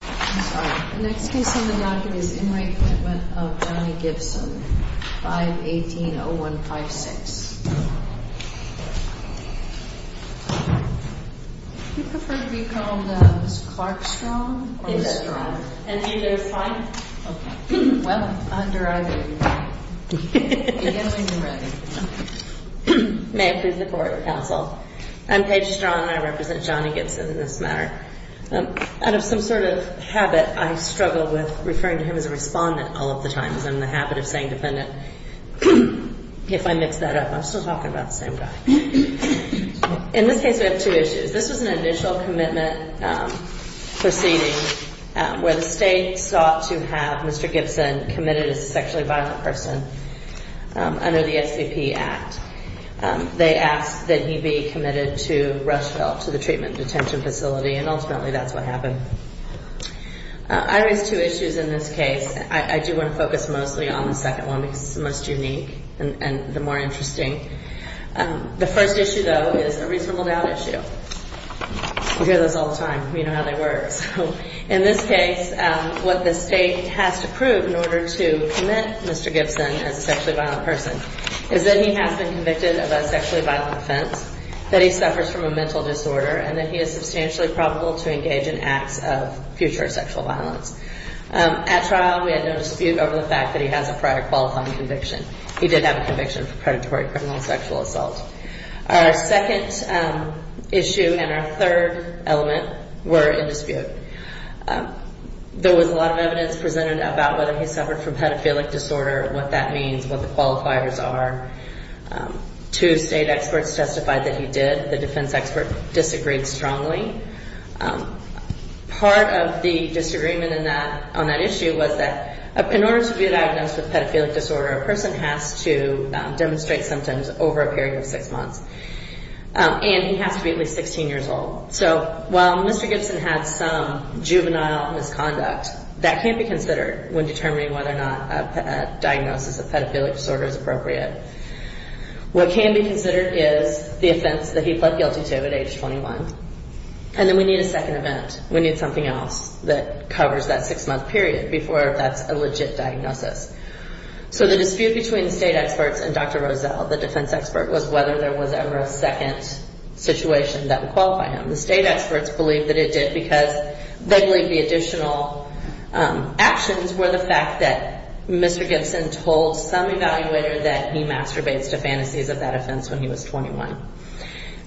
I'm sorry. The next case on the docket is In Re Commitment of Johnny Gibson, 518-0156. Do you prefer to be called Ms. Clark Strong or Ms. Strong? Either is fine. Okay. Well, under either you are. Begin when you're ready. May I please report, counsel? I'm Paige Strong and I represent Johnny Gibson in this matter. Out of some sort of habit, I struggle with referring to him as a respondent all of the time. It's in the habit of saying defendant if I mix that up. I'm still talking about the same guy. In this case, we have two issues. This was an initial commitment proceeding where the state sought to have Mr. Gibson committed as a sexually violent person under the SCP Act. They asked that he be committed to Rushville, to the treatment detention facility, and ultimately that's what happened. I raised two issues in this case. I do want to focus mostly on the second one because it's the most unique and the more interesting. The first issue, though, is a reasonable doubt issue. We hear those all the time. We know how they work. In this case, what the state has to prove in order to commit Mr. Gibson as a sexually violent person is that he has been convicted of a sexually violent offense, that he suffers from a mental disorder, and that he is substantially probable to engage in acts of future sexual violence. At trial, we had no dispute over the fact that he has a prior qualifying conviction. He did have a conviction for predatory criminal sexual assault. Our second issue and our third element were in dispute. There was a lot of evidence presented about whether he suffered from pedophilic disorder, what that means, what the qualifiers are. Two state experts testified that he did. The defense expert disagreed strongly. Part of the disagreement on that issue was that in order to be diagnosed with pedophilic disorder, a person has to demonstrate symptoms over a period of six months, and he has to be at least 16 years old. So while Mr. Gibson had some juvenile misconduct, that can't be considered when determining whether or not a diagnosis of pedophilic disorder is appropriate. What can be considered is the offense that he pled guilty to at age 21, and then we need a second event. We need something else that covers that six-month period before that's a legit diagnosis. So the dispute between the state experts and Dr. Rozell, the defense expert, was whether there was ever a second situation that would qualify him. The state experts believe that it did because they believe the additional actions were the fact that Mr. Gibson told some evaluator that he masturbates to fantasies of that offense when he was 21,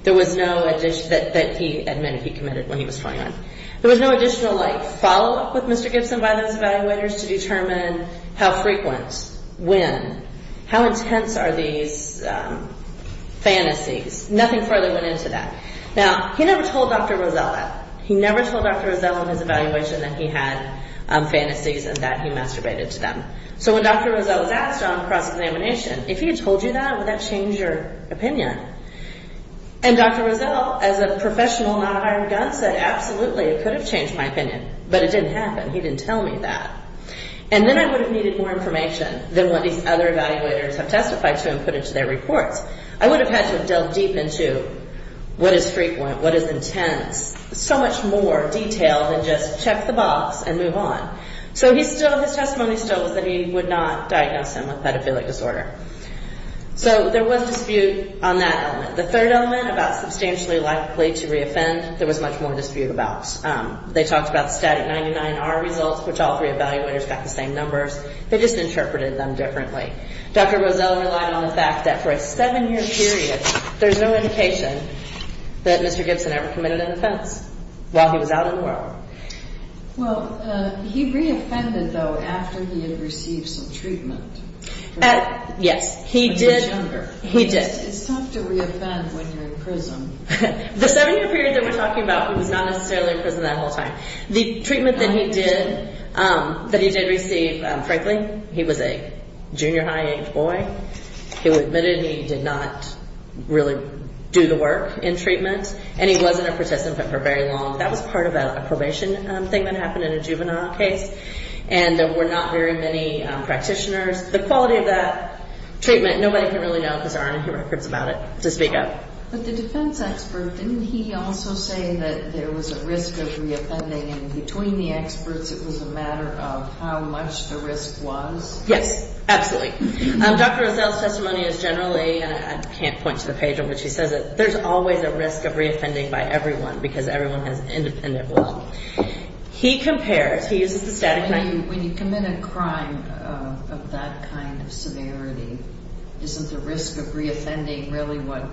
that he admitted he committed when he was 21. There was no additional, like, follow-up with Mr. Gibson by those evaluators to determine how frequent, when, how intense are these fantasies. Nothing further went into that. Now, he never told Dr. Rozell that. He never told Dr. Rozell in his evaluation that he had fantasies and that he masturbated to them. So when Dr. Rozell was asked on cross-examination, if he had told you that, would that change your opinion? And Dr. Rozell, as a professional non-iron gun, said, absolutely, it could have changed my opinion, but it didn't happen. He didn't tell me that. And then I would have needed more information than what these other evaluators have testified to and put into their reports. I would have had to have delved deep into what is frequent, what is intense, so much more detail than just check the box and move on. So his testimony still was that he would not diagnose him with pedophilic disorder. So there was dispute on that element. The third element about substantially likely to reoffend, there was much more dispute about. They talked about the static 99R results, which all three evaluators got the same numbers. They just interpreted them differently. Dr. Rozell relied on the fact that for a 7-year period, there's no indication that Mr. Gibson ever committed an offense while he was out in the world. Well, he reoffended, though, after he had received some treatment. Yes, he did. It's tough to reoffend when you're in prison. The 7-year period that we're talking about, he was not necessarily in prison that whole time. The treatment that he did, that he did receive, frankly, he was a junior high age boy. He was admitted and he did not really do the work in treatment, and he wasn't a participant for very long. That was part of a probation thing that happened in a juvenile case. And there were not very many practitioners. The quality of that treatment, nobody can really know because there aren't any records about it to speak of. But the defense expert, didn't he also say that there was a risk of reoffending? And between the experts, it was a matter of how much the risk was? Yes, absolutely. Dr. Rozell's testimony is generally, and I can't point to the page on which he says it, there's always a risk of reoffending by everyone because everyone has independent will. He compares, he uses the static line. So when you commit a crime of that kind of severity, isn't the risk of reoffending really what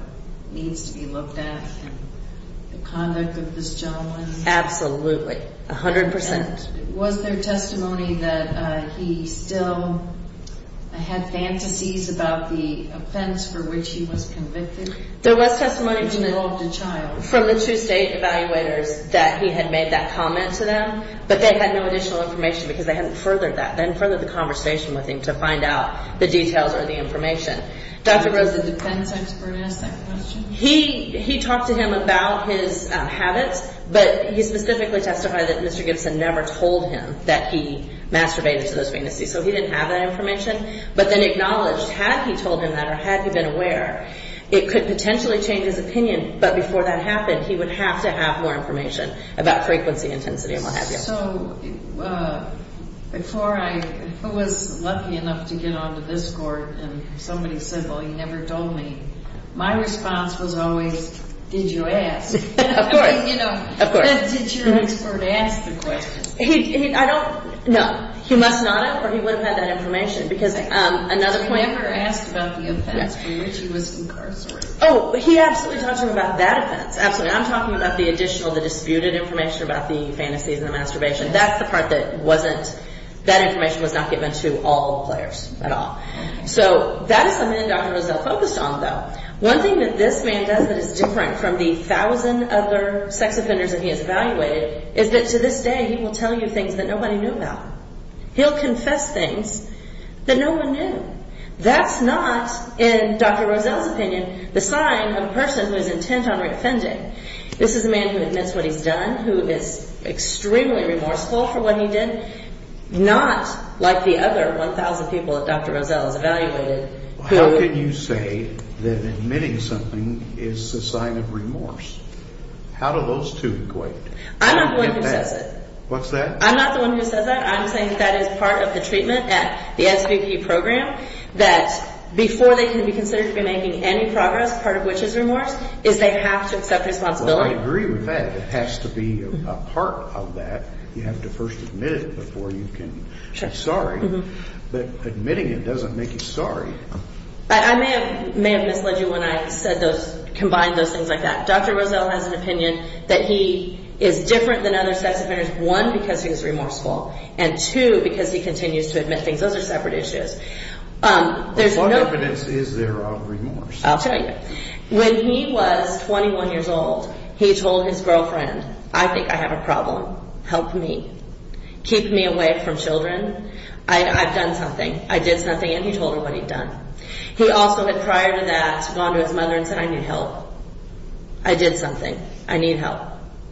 needs to be looked at in the conduct of this gentleman? Absolutely, 100%. And was there testimony that he still had fantasies about the offense for which he was convicted? There was testimony from the true state evaluators that he had made that comment to them, but they had no additional information because they hadn't furthered that. They hadn't furthered the conversation with him to find out the details or the information. Dr. Rozell, did the defense expert ask that question? He talked to him about his habits, but he specifically testified that Mr. Gibson never told him that he masturbated to those fantasies. So he didn't have that information, but then acknowledged had he told him that or had he been aware, it could potentially change his opinion. But before that happened, he would have to have more information about frequency, intensity, and what have you. So before I was lucky enough to get onto this court and somebody said, well, you never told me, my response was always, did you ask? Of course. Did your expert ask the question? No, he must not have, or he wouldn't have had that information. He never asked about the offense for which he was incarcerated. Oh, he absolutely talked to him about that offense, absolutely. I'm talking about the additional, the disputed information about the fantasies and the masturbation. That's the part that wasn't, that information was not given to all players at all. So that is something that Dr. Rozell focused on, though. One thing that this man does that is different from the thousand other sex offenders that he has evaluated is that to this day he will tell you things that nobody knew about. He'll confess things that no one knew. That's not, in Dr. Rozell's opinion, the sign of a person who is intent on reoffending. This is a man who admits what he's done, who is extremely remorseful for what he did, not like the other 1,000 people that Dr. Rozell has evaluated. How can you say that admitting something is a sign of remorse? How do those two equate? I'm not the one who says it. What's that? I'm not the one who says that. I'm saying that that is part of the treatment at the SVP program, that before they can be considered to be making any progress, part of which is remorse, is they have to accept responsibility. Well, I agree with that. It has to be a part of that. You have to first admit it before you can be sorry. But admitting it doesn't make you sorry. I may have misled you when I said those, combined those things like that. Dr. Rozell has an opinion that he is different than other sex offenders, one, because he's remorseful, and two, because he continues to admit things. Those are separate issues. What evidence is there of remorse? I'll tell you. When he was 21 years old, he told his girlfriend, I think I have a problem. Help me. Keep me away from children. I've done something. I did something, and he told her what he'd done. He also had, prior to that, gone to his mother and said, I need help. I did something. I need help.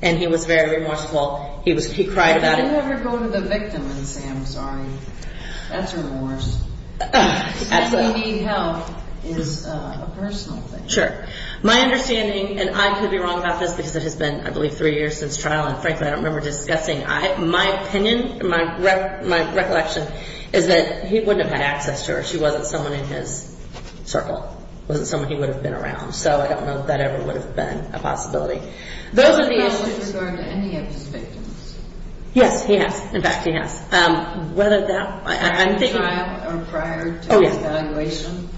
And he was very remorseful. He cried about it. You never go to the victim and say, I'm sorry. That's remorse. Saying you need help is a personal thing. My understanding, and I could be wrong about this because it has been, I believe, three years since trial, and, frankly, I don't remember discussing. My opinion, my recollection, is that he wouldn't have had access to her. She wasn't someone in his circle. Wasn't someone he would have been around. So I don't know if that ever would have been a possibility. Those are the issues. Was there a problem with regard to any of his victims? Yes, he has. In fact, he has. Whether that, I'm thinking. Prior to the trial or prior to his evaluation?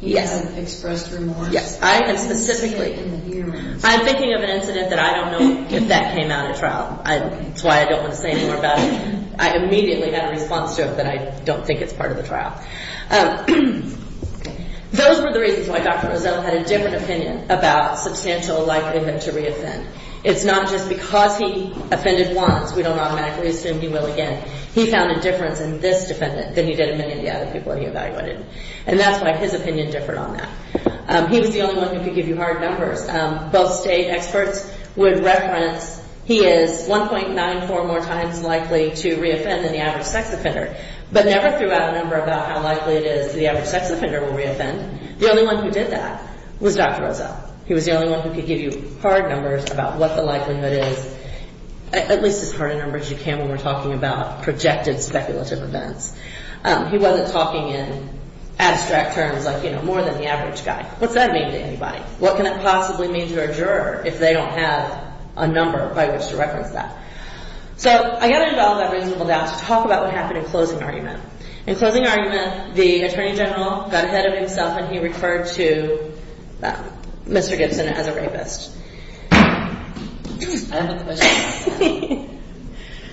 Yes. He hadn't expressed remorse? Yes. Specifically in the hearings? I'm thinking of an incident that I don't know if that came out at trial. That's why I don't want to say any more about it. I immediately had a response to it that I don't think it's part of the trial. Those were the reasons why Dr. Roselle had a different opinion about substantial likelihood to re-offend. It's not just because he offended once. We don't automatically assume he will again. He found a difference in this defendant than he did in many of the other people he evaluated. And that's why his opinion differed on that. He was the only one who could give you hard numbers. Both state experts would reference he is 1.94 more times likely to re-offend than the average sex offender. But never threw out a number about how likely it is the average sex offender will re-offend. The only one who did that was Dr. Roselle. He was the only one who could give you hard numbers about what the likelihood is, at least as hard a number as you can when we're talking about projected speculative events. He wasn't talking in abstract terms like, you know, more than the average guy. What's that mean to anybody? What can it possibly mean to a juror if they don't have a number by which to reference that? So I've got to develop a reasonable doubt to talk about what happened in closing argument. In closing argument, the Attorney General got ahead of himself and he referred to Mr. Gibson as a rapist. I have a question.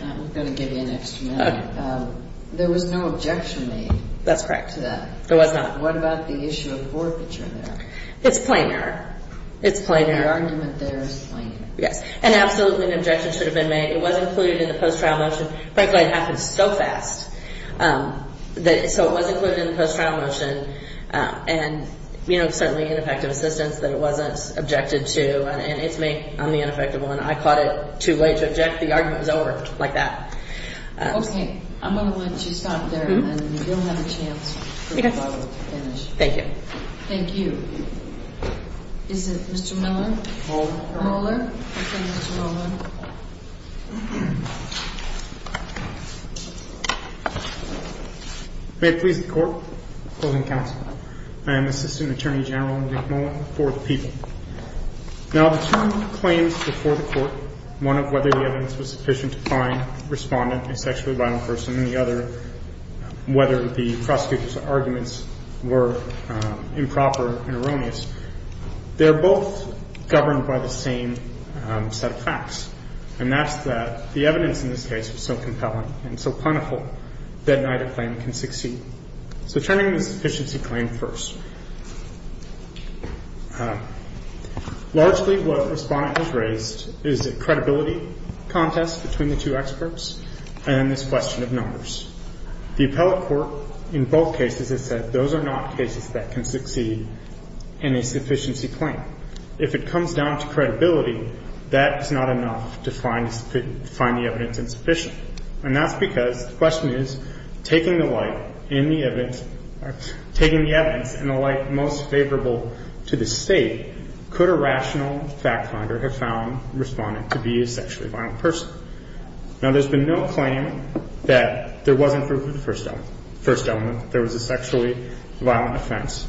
I'm going to give you an extra minute. There was no objection made. That's correct. There was not. What about the issue of forfeiture there? It's plain error. It's plain error. The argument there is plain error. Yes, and absolutely an objection should have been made. It was included in the post-trial motion. Frankly, it happened so fast. So it was included in the post-trial motion, and, you know, certainly ineffective assistance that it wasn't objected to. And it's made on the ineffective one. I caught it too late to object. The argument was over like that. Okay. I'm going to let you stop there, and you'll have a chance to finish. Thank you. Okay. Thank you. Is it Mr. Miller? Mueller. Mueller. Okay, Mr. Mueller. May it please the Court. Closing counsel. I am Assistant Attorney General Nick Mueller for the people. Now the two claims before the Court, one of whether the evidence was sufficient to find the respondent a sexually violent person, and the other whether the prosecutor's arguments were improper and erroneous, they're both governed by the same set of facts, and that's that the evidence in this case was so compelling and so plentiful that neither claim can succeed. So turning the sufficiency claim first. Largely what the respondent has raised is a credibility contest between the two experts and this question of numbers. The appellate court in both cases has said those are not cases that can succeed in a sufficiency claim. If it comes down to credibility, that is not enough to find the evidence insufficient, and that's because the question is taking the light in the evidence, taking the evidence in the light most favorable to the State, could a rational fact finder have found the respondent to be a sexually violent person? Now there's been no claim that there wasn't proof of the first element, there was a sexually violent offense.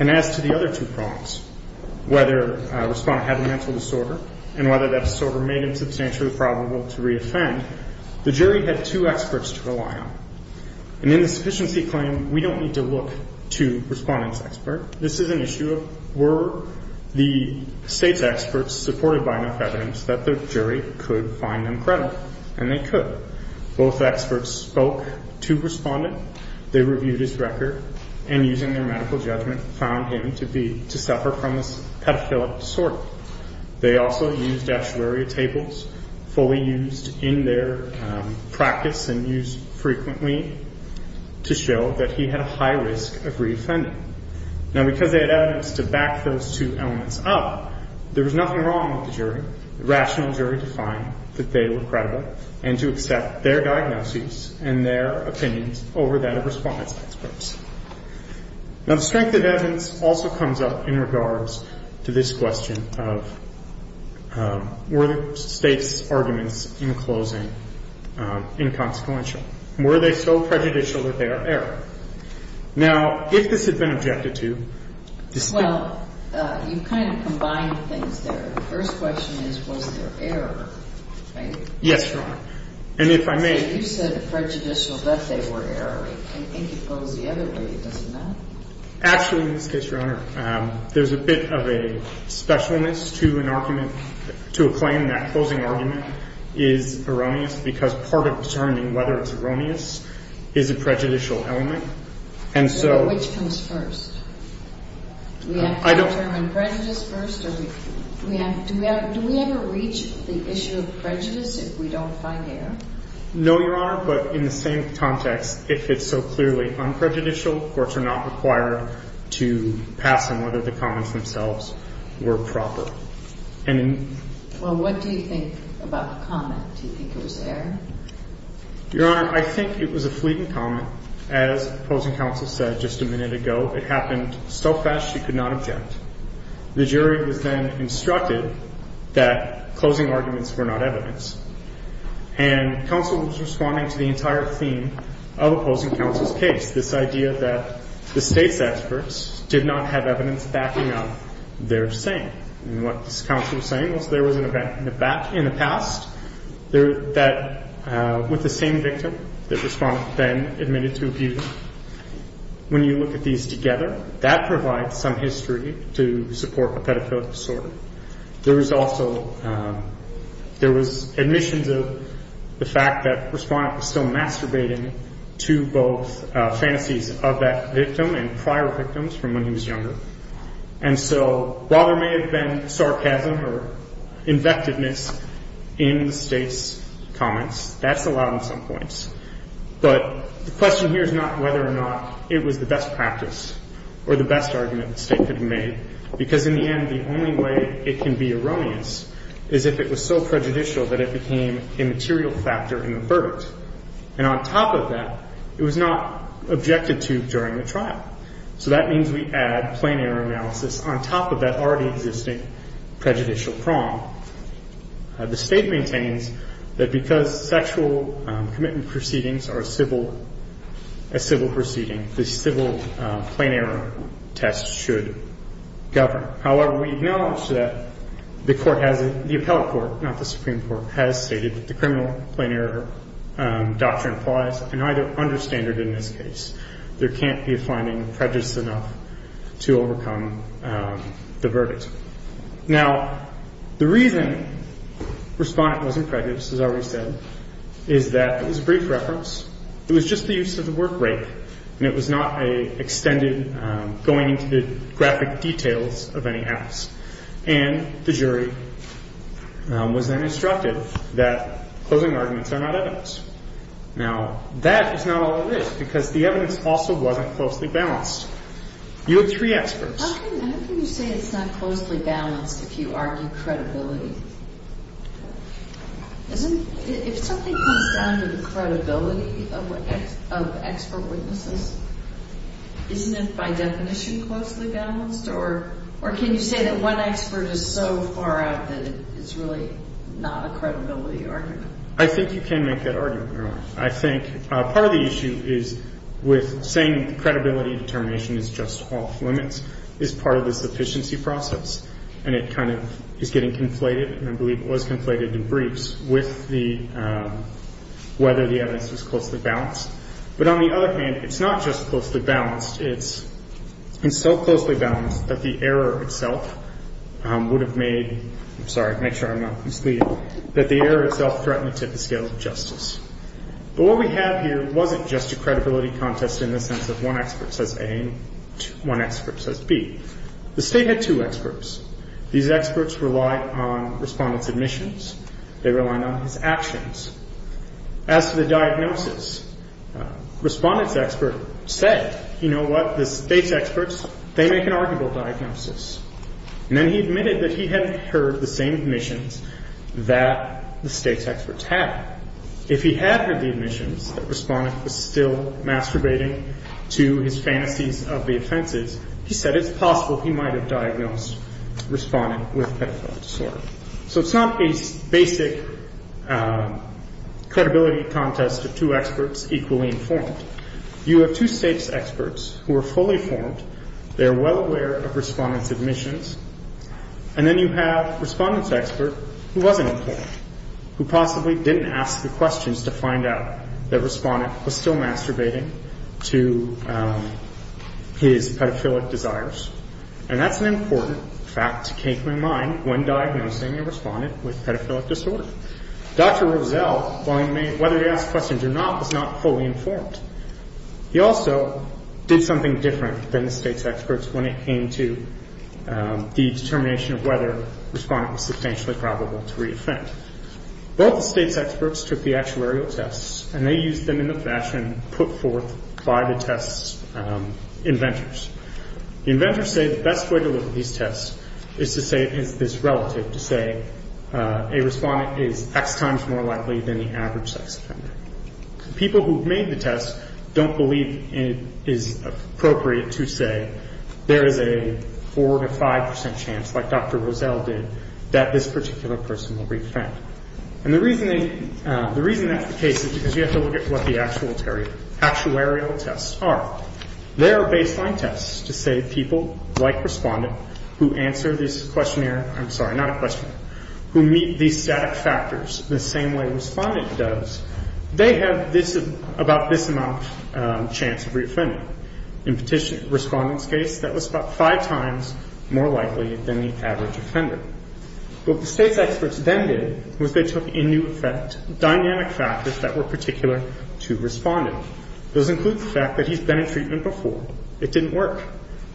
And as to the other two problems, whether a respondent had a mental disorder and whether that disorder made him substantially probable to reoffend, the jury had two experts to rely on. And in the sufficiency claim, we don't need to look to respondent's expert. This is an issue of were the State's experts supported by enough evidence that the jury could find them credible? And they could. Both experts spoke to respondent, they reviewed his record, and using their medical judgment found him to suffer from a pedophilic disorder. They also used actuarial tables, fully used in their practice and used frequently, to show that he had a high risk of reoffending. Now because they had evidence to back those two elements up, there was nothing wrong with the jury. The rational jury defined that they were credible and to accept their diagnoses and their opinions over that of respondent's experts. Now, the strength of evidence also comes up in regards to this question of were the State's arguments in closing inconsequential? Were they so prejudicial that they are error? Now, if this had been objected to, the State... Well, you kind of combined things there. The first question is was there error, right? Yes, Your Honor. And if I may... Actually, in this case, Your Honor, there's a bit of a specialness to an argument, to a claim that closing argument is erroneous because part of determining whether it's erroneous is a prejudicial element. And so... Which comes first? I don't... Do we have to determine prejudice first? Do we ever reach the issue of prejudice if we don't find error? No, Your Honor, but in the same context, if it's so clearly unprejudicial, courts are not required to pass on whether the comments themselves were proper. And... Well, what do you think about the comment? Do you think it was error? Your Honor, I think it was a fleeting comment. As opposing counsel said just a minute ago, it happened so fast she could not object. The jury was then instructed that closing arguments were not evidence. And counsel was responding to the entire theme of opposing counsel's case, this idea that the state's experts did not have evidence backing up their saying. And what this counsel was saying was there was an event in the past that with the same victim, the respondent then admitted to abusing. When you look at these together, that provides some history to support a pedophilic disorder. There was also admissions of the fact that the respondent was still masturbating to both fantasies of that victim and prior victims from when he was younger. And so while there may have been sarcasm or invectiveness in the state's comments, that's allowed in some points. But the question here is not whether or not it was the best practice or the best argument the state could have made, because in the end the only way it can be erroneous is if it was so prejudicial that it became a material factor in the verdict. And on top of that, it was not objected to during the trial. So that means we add plain error analysis on top of that already existing prejudicial prong. The state maintains that because sexual commitment proceedings are a civil proceeding, the civil plain error test should govern. However, we acknowledge that the court has, the appellate court, not the Supreme Court, has stated that the criminal plain error doctrine applies, and I understand it in this case. There can't be a finding prejudiced enough to overcome the verdict. Now, the reason respondent wasn't prejudiced, as I already said, is that, as a brief reference, it was just the use of the word rape, and it was not an extended going into the graphic details of any acts. And the jury was then instructed that closing arguments are not evidence. Now, that is not all it is, because the evidence also wasn't closely balanced. You have three experts. How can you say it's not closely balanced if you argue credibility? If something comes down to the credibility of expert witnesses, isn't it by definition closely balanced, or can you say that one expert is so far out that it's really not a credibility argument? I think you can make that argument, Your Honor. I think part of the issue is with saying credibility determination is just off limits is part of this efficiency process, and it kind of is getting conflated, and I believe it was conflated in briefs, with whether the evidence was closely balanced. But on the other hand, it's not just closely balanced. It's been so closely balanced that the error itself would have made the error itself threatened to the scale of justice. But what we have here wasn't just a credibility contest in the sense that one expert says A and one expert says B. The State had two experts. These experts relied on Respondent's admissions. They relied on his actions. As to the diagnosis, Respondent's expert said, you know what, the State's experts, they make an arguable diagnosis. And then he admitted that he hadn't heard the same admissions that the State's experts had. If he had heard the admissions, the Respondent was still masturbating to his fantasies of the offenses. He said it's possible he might have diagnosed Respondent with pedophilic disorder. So it's not a basic credibility contest of two experts equally informed. You have two State's experts who are fully informed. They are well aware of Respondent's admissions. And then you have Respondent's expert who wasn't informed, who possibly didn't ask the questions to find out that Respondent was still masturbating to his pedophilic desires. And that's an important fact to keep in mind when diagnosing a Respondent with pedophilic disorder. Dr. Rozelle, while he made whether to ask questions or not, was not fully informed. He also did something different than the State's experts when it came to the determination of whether Respondent was substantially probable to re-offend. Both the State's experts took the actuarial tests, and they used them in the fashion put forth by the test's inventors. The inventors say the best way to look at these tests is to say it is relative, to say a Respondent is X times more likely than the average sex offender. People who have made the tests don't believe it is appropriate to say there is a 4 to 5 percent chance, like Dr. Rozelle did, that this particular person will re-offend. And the reason that's the case is because you have to look at what the actuarial tests are. They are baseline tests to say people like Respondent who answer this questionnaire, I'm sorry, not a questionnaire, who meet these static factors the same way Respondent does, they have about this amount of chance of re-offending. In Respondent's case, that was about 5 times more likely than the average offender. What the State's experts then did was they took into effect dynamic factors that were particular to Respondent. Those include the fact that he's been in treatment before. It didn't work.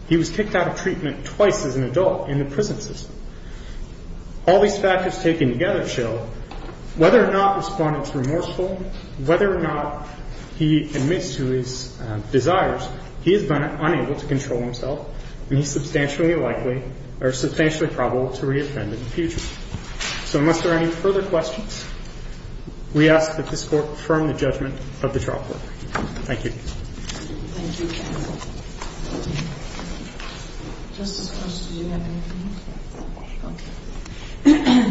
He was kicked out of treatment twice as an adult in the prison system. All these factors taken together show whether or not Respondent's remorseful, whether or not he admits to his desires, he has been unable to control himself, and he's substantially likely or substantially probable to re-offend in the future. So unless there are any further questions, we ask that this Court confirm the judgment of the trial court. Thank you. Thank you. Thank you, counsel. Justice Gorsuch, did you have anything? No. Okay.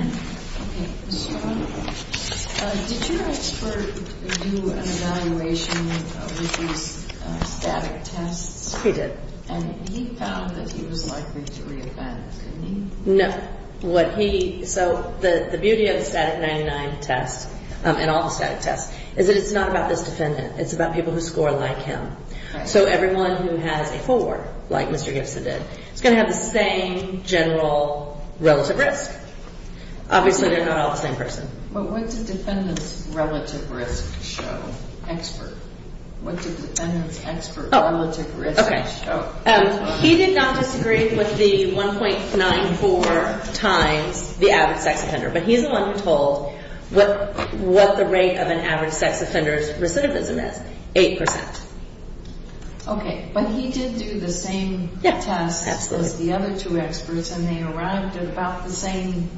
Okay. Ms. Strunk, did your expert do an evaluation of these static tests? He did. And he found that he was likely to re-offend, didn't he? No. What he, so the beauty of the static 99 test and all the static tests is that it's not about this Defendant. It's about people who score like him. So everyone who has a 4, like Mr. Gibson did, is going to have the same general relative risk. Obviously, they're not all the same person. But what did Defendant's relative risk show, expert? What did Defendant's expert relative risk show? Okay. He did not disagree with the 1.94 times the average sex offender, but he's the one who told what the rate of an average sex offender's recidivism is, 8%. Okay. But he did do the same test as the other two experts, and they arrived at about the same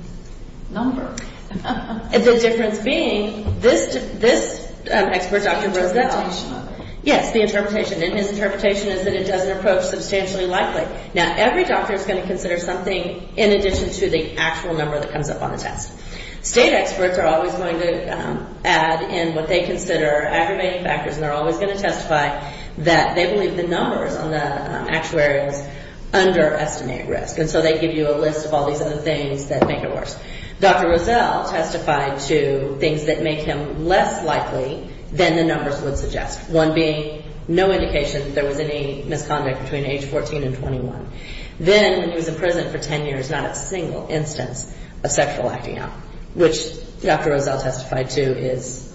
number. The difference being this expert, Dr. Roosevelt. The interpretation of it. Yes, the interpretation. And his interpretation is that it doesn't approach substantially likely. Now, every doctor is going to consider something in addition to the actual number that comes up on the test. State experts are always going to add in what they consider aggravating factors, and they're always going to testify that they believe the numbers on the actuaries underestimate risk. And so they give you a list of all these other things that make it worse. Dr. Roosevelt testified to things that make him less likely than the numbers would suggest, one being no indication that there was any misconduct between age 14 and 21. Then when he was in prison for 10 years, not a single instance of sexual acting up, which Dr. Roosevelt testified to is,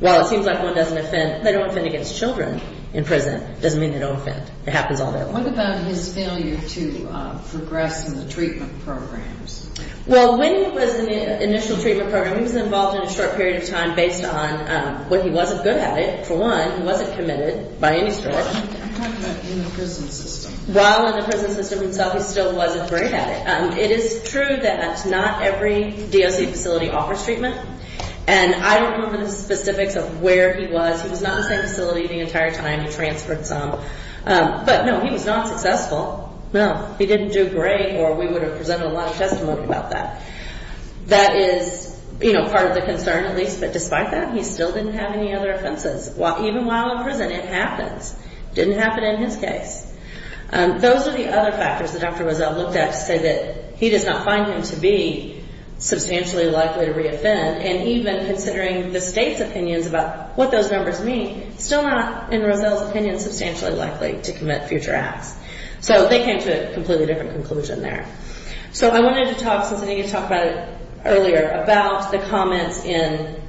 well, it seems like one doesn't offend. They don't offend against children in prison. It doesn't mean they don't offend. It happens all the time. What about his failure to progress in the treatment programs? Well, when he was in the initial treatment program, he was involved in a short period of time based on, well, he wasn't good at it, for one. He wasn't committed by any sort. I'm talking about in the prison system. While in the prison system himself, he still wasn't great at it. It is true that not every DOC facility offers treatment, and I don't remember the specifics of where he was. He was not in the same facility the entire time. He transferred some. But, no, he was not successful. No, he didn't do great, or we would have presented a lot of testimony about that. That is part of the concern, at least. But despite that, he still didn't have any other offenses. Even while in prison, it happens. It didn't happen in his case. Those are the other factors that Dr. Roosevelt looked at to say that he does not find him to be substantially likely to reoffend, and even considering the state's opinions about what those numbers mean, still not, in Roosevelt's opinion, substantially likely to commit future acts. So they came to a completely different conclusion there. So I wanted to talk, since I didn't get to talk about it earlier, about the comments in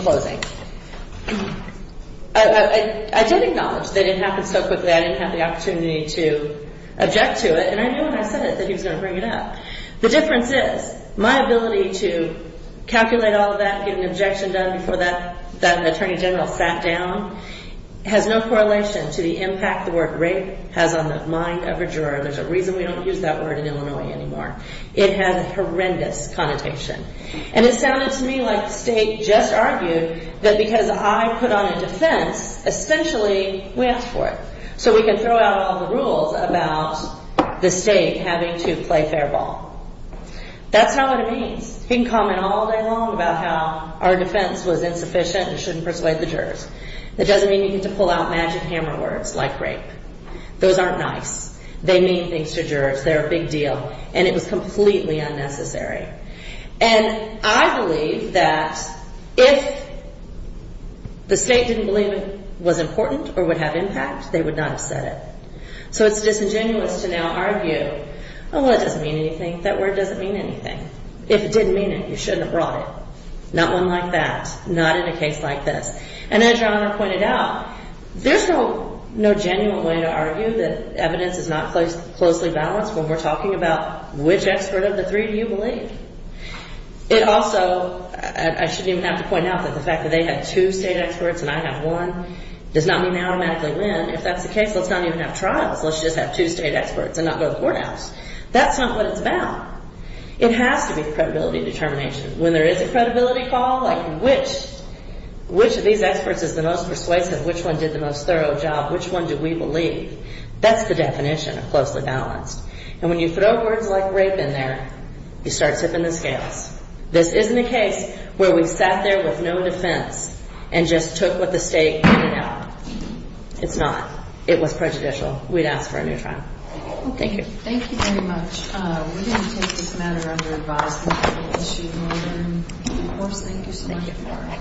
closing. I did acknowledge that it happened so quickly I didn't have the opportunity to object to it, and I knew when I said it that he was going to bring it up. The difference is my ability to calculate all of that, get an objection done before that attorney general sat down, has no correlation to the impact the word rape has on the mind of a juror. There's a reason we don't use that word in Illinois anymore. It has a horrendous connotation. And it sounded to me like the state just argued that because I put on a defense, essentially we asked for it, so we can throw out all the rules about the state having to play fair ball. That's not what it means. He can comment all day long about how our defense was insufficient and shouldn't persuade the jurors. That doesn't mean you get to pull out magic hammer words like rape. Those aren't nice. They mean things to jurors. They're a big deal, and it was completely unnecessary. And I believe that if the state didn't believe it was important or would have impact, they would not have said it. So it's disingenuous to now argue, oh, well, it doesn't mean anything. That word doesn't mean anything. If it didn't mean it, you shouldn't have brought it. Not one like that. Not in a case like this. And as John pointed out, there's no genuine way to argue that evidence is not closely balanced when we're talking about which expert of the three do you believe. It also – I shouldn't even have to point out that the fact that they have two state experts and I have one does not mean they automatically win. If that's the case, let's not even have trials. Let's just have two state experts and not go to the courthouse. That's not what it's about. It has to be credibility determination. When there is a credibility call, like which of these experts is the most persuasive, which one did the most thorough job, which one do we believe? That's the definition of closely balanced. And when you throw words like rape in there, you start tipping the scales. This isn't a case where we sat there with no defense and just took what the state handed out. It's not. It was prejudicial. We'd ask for a new trial. Thank you. Thank you very much. We're going to take this matter under advice. Thank you. Thank you. Of course. Thank you so much.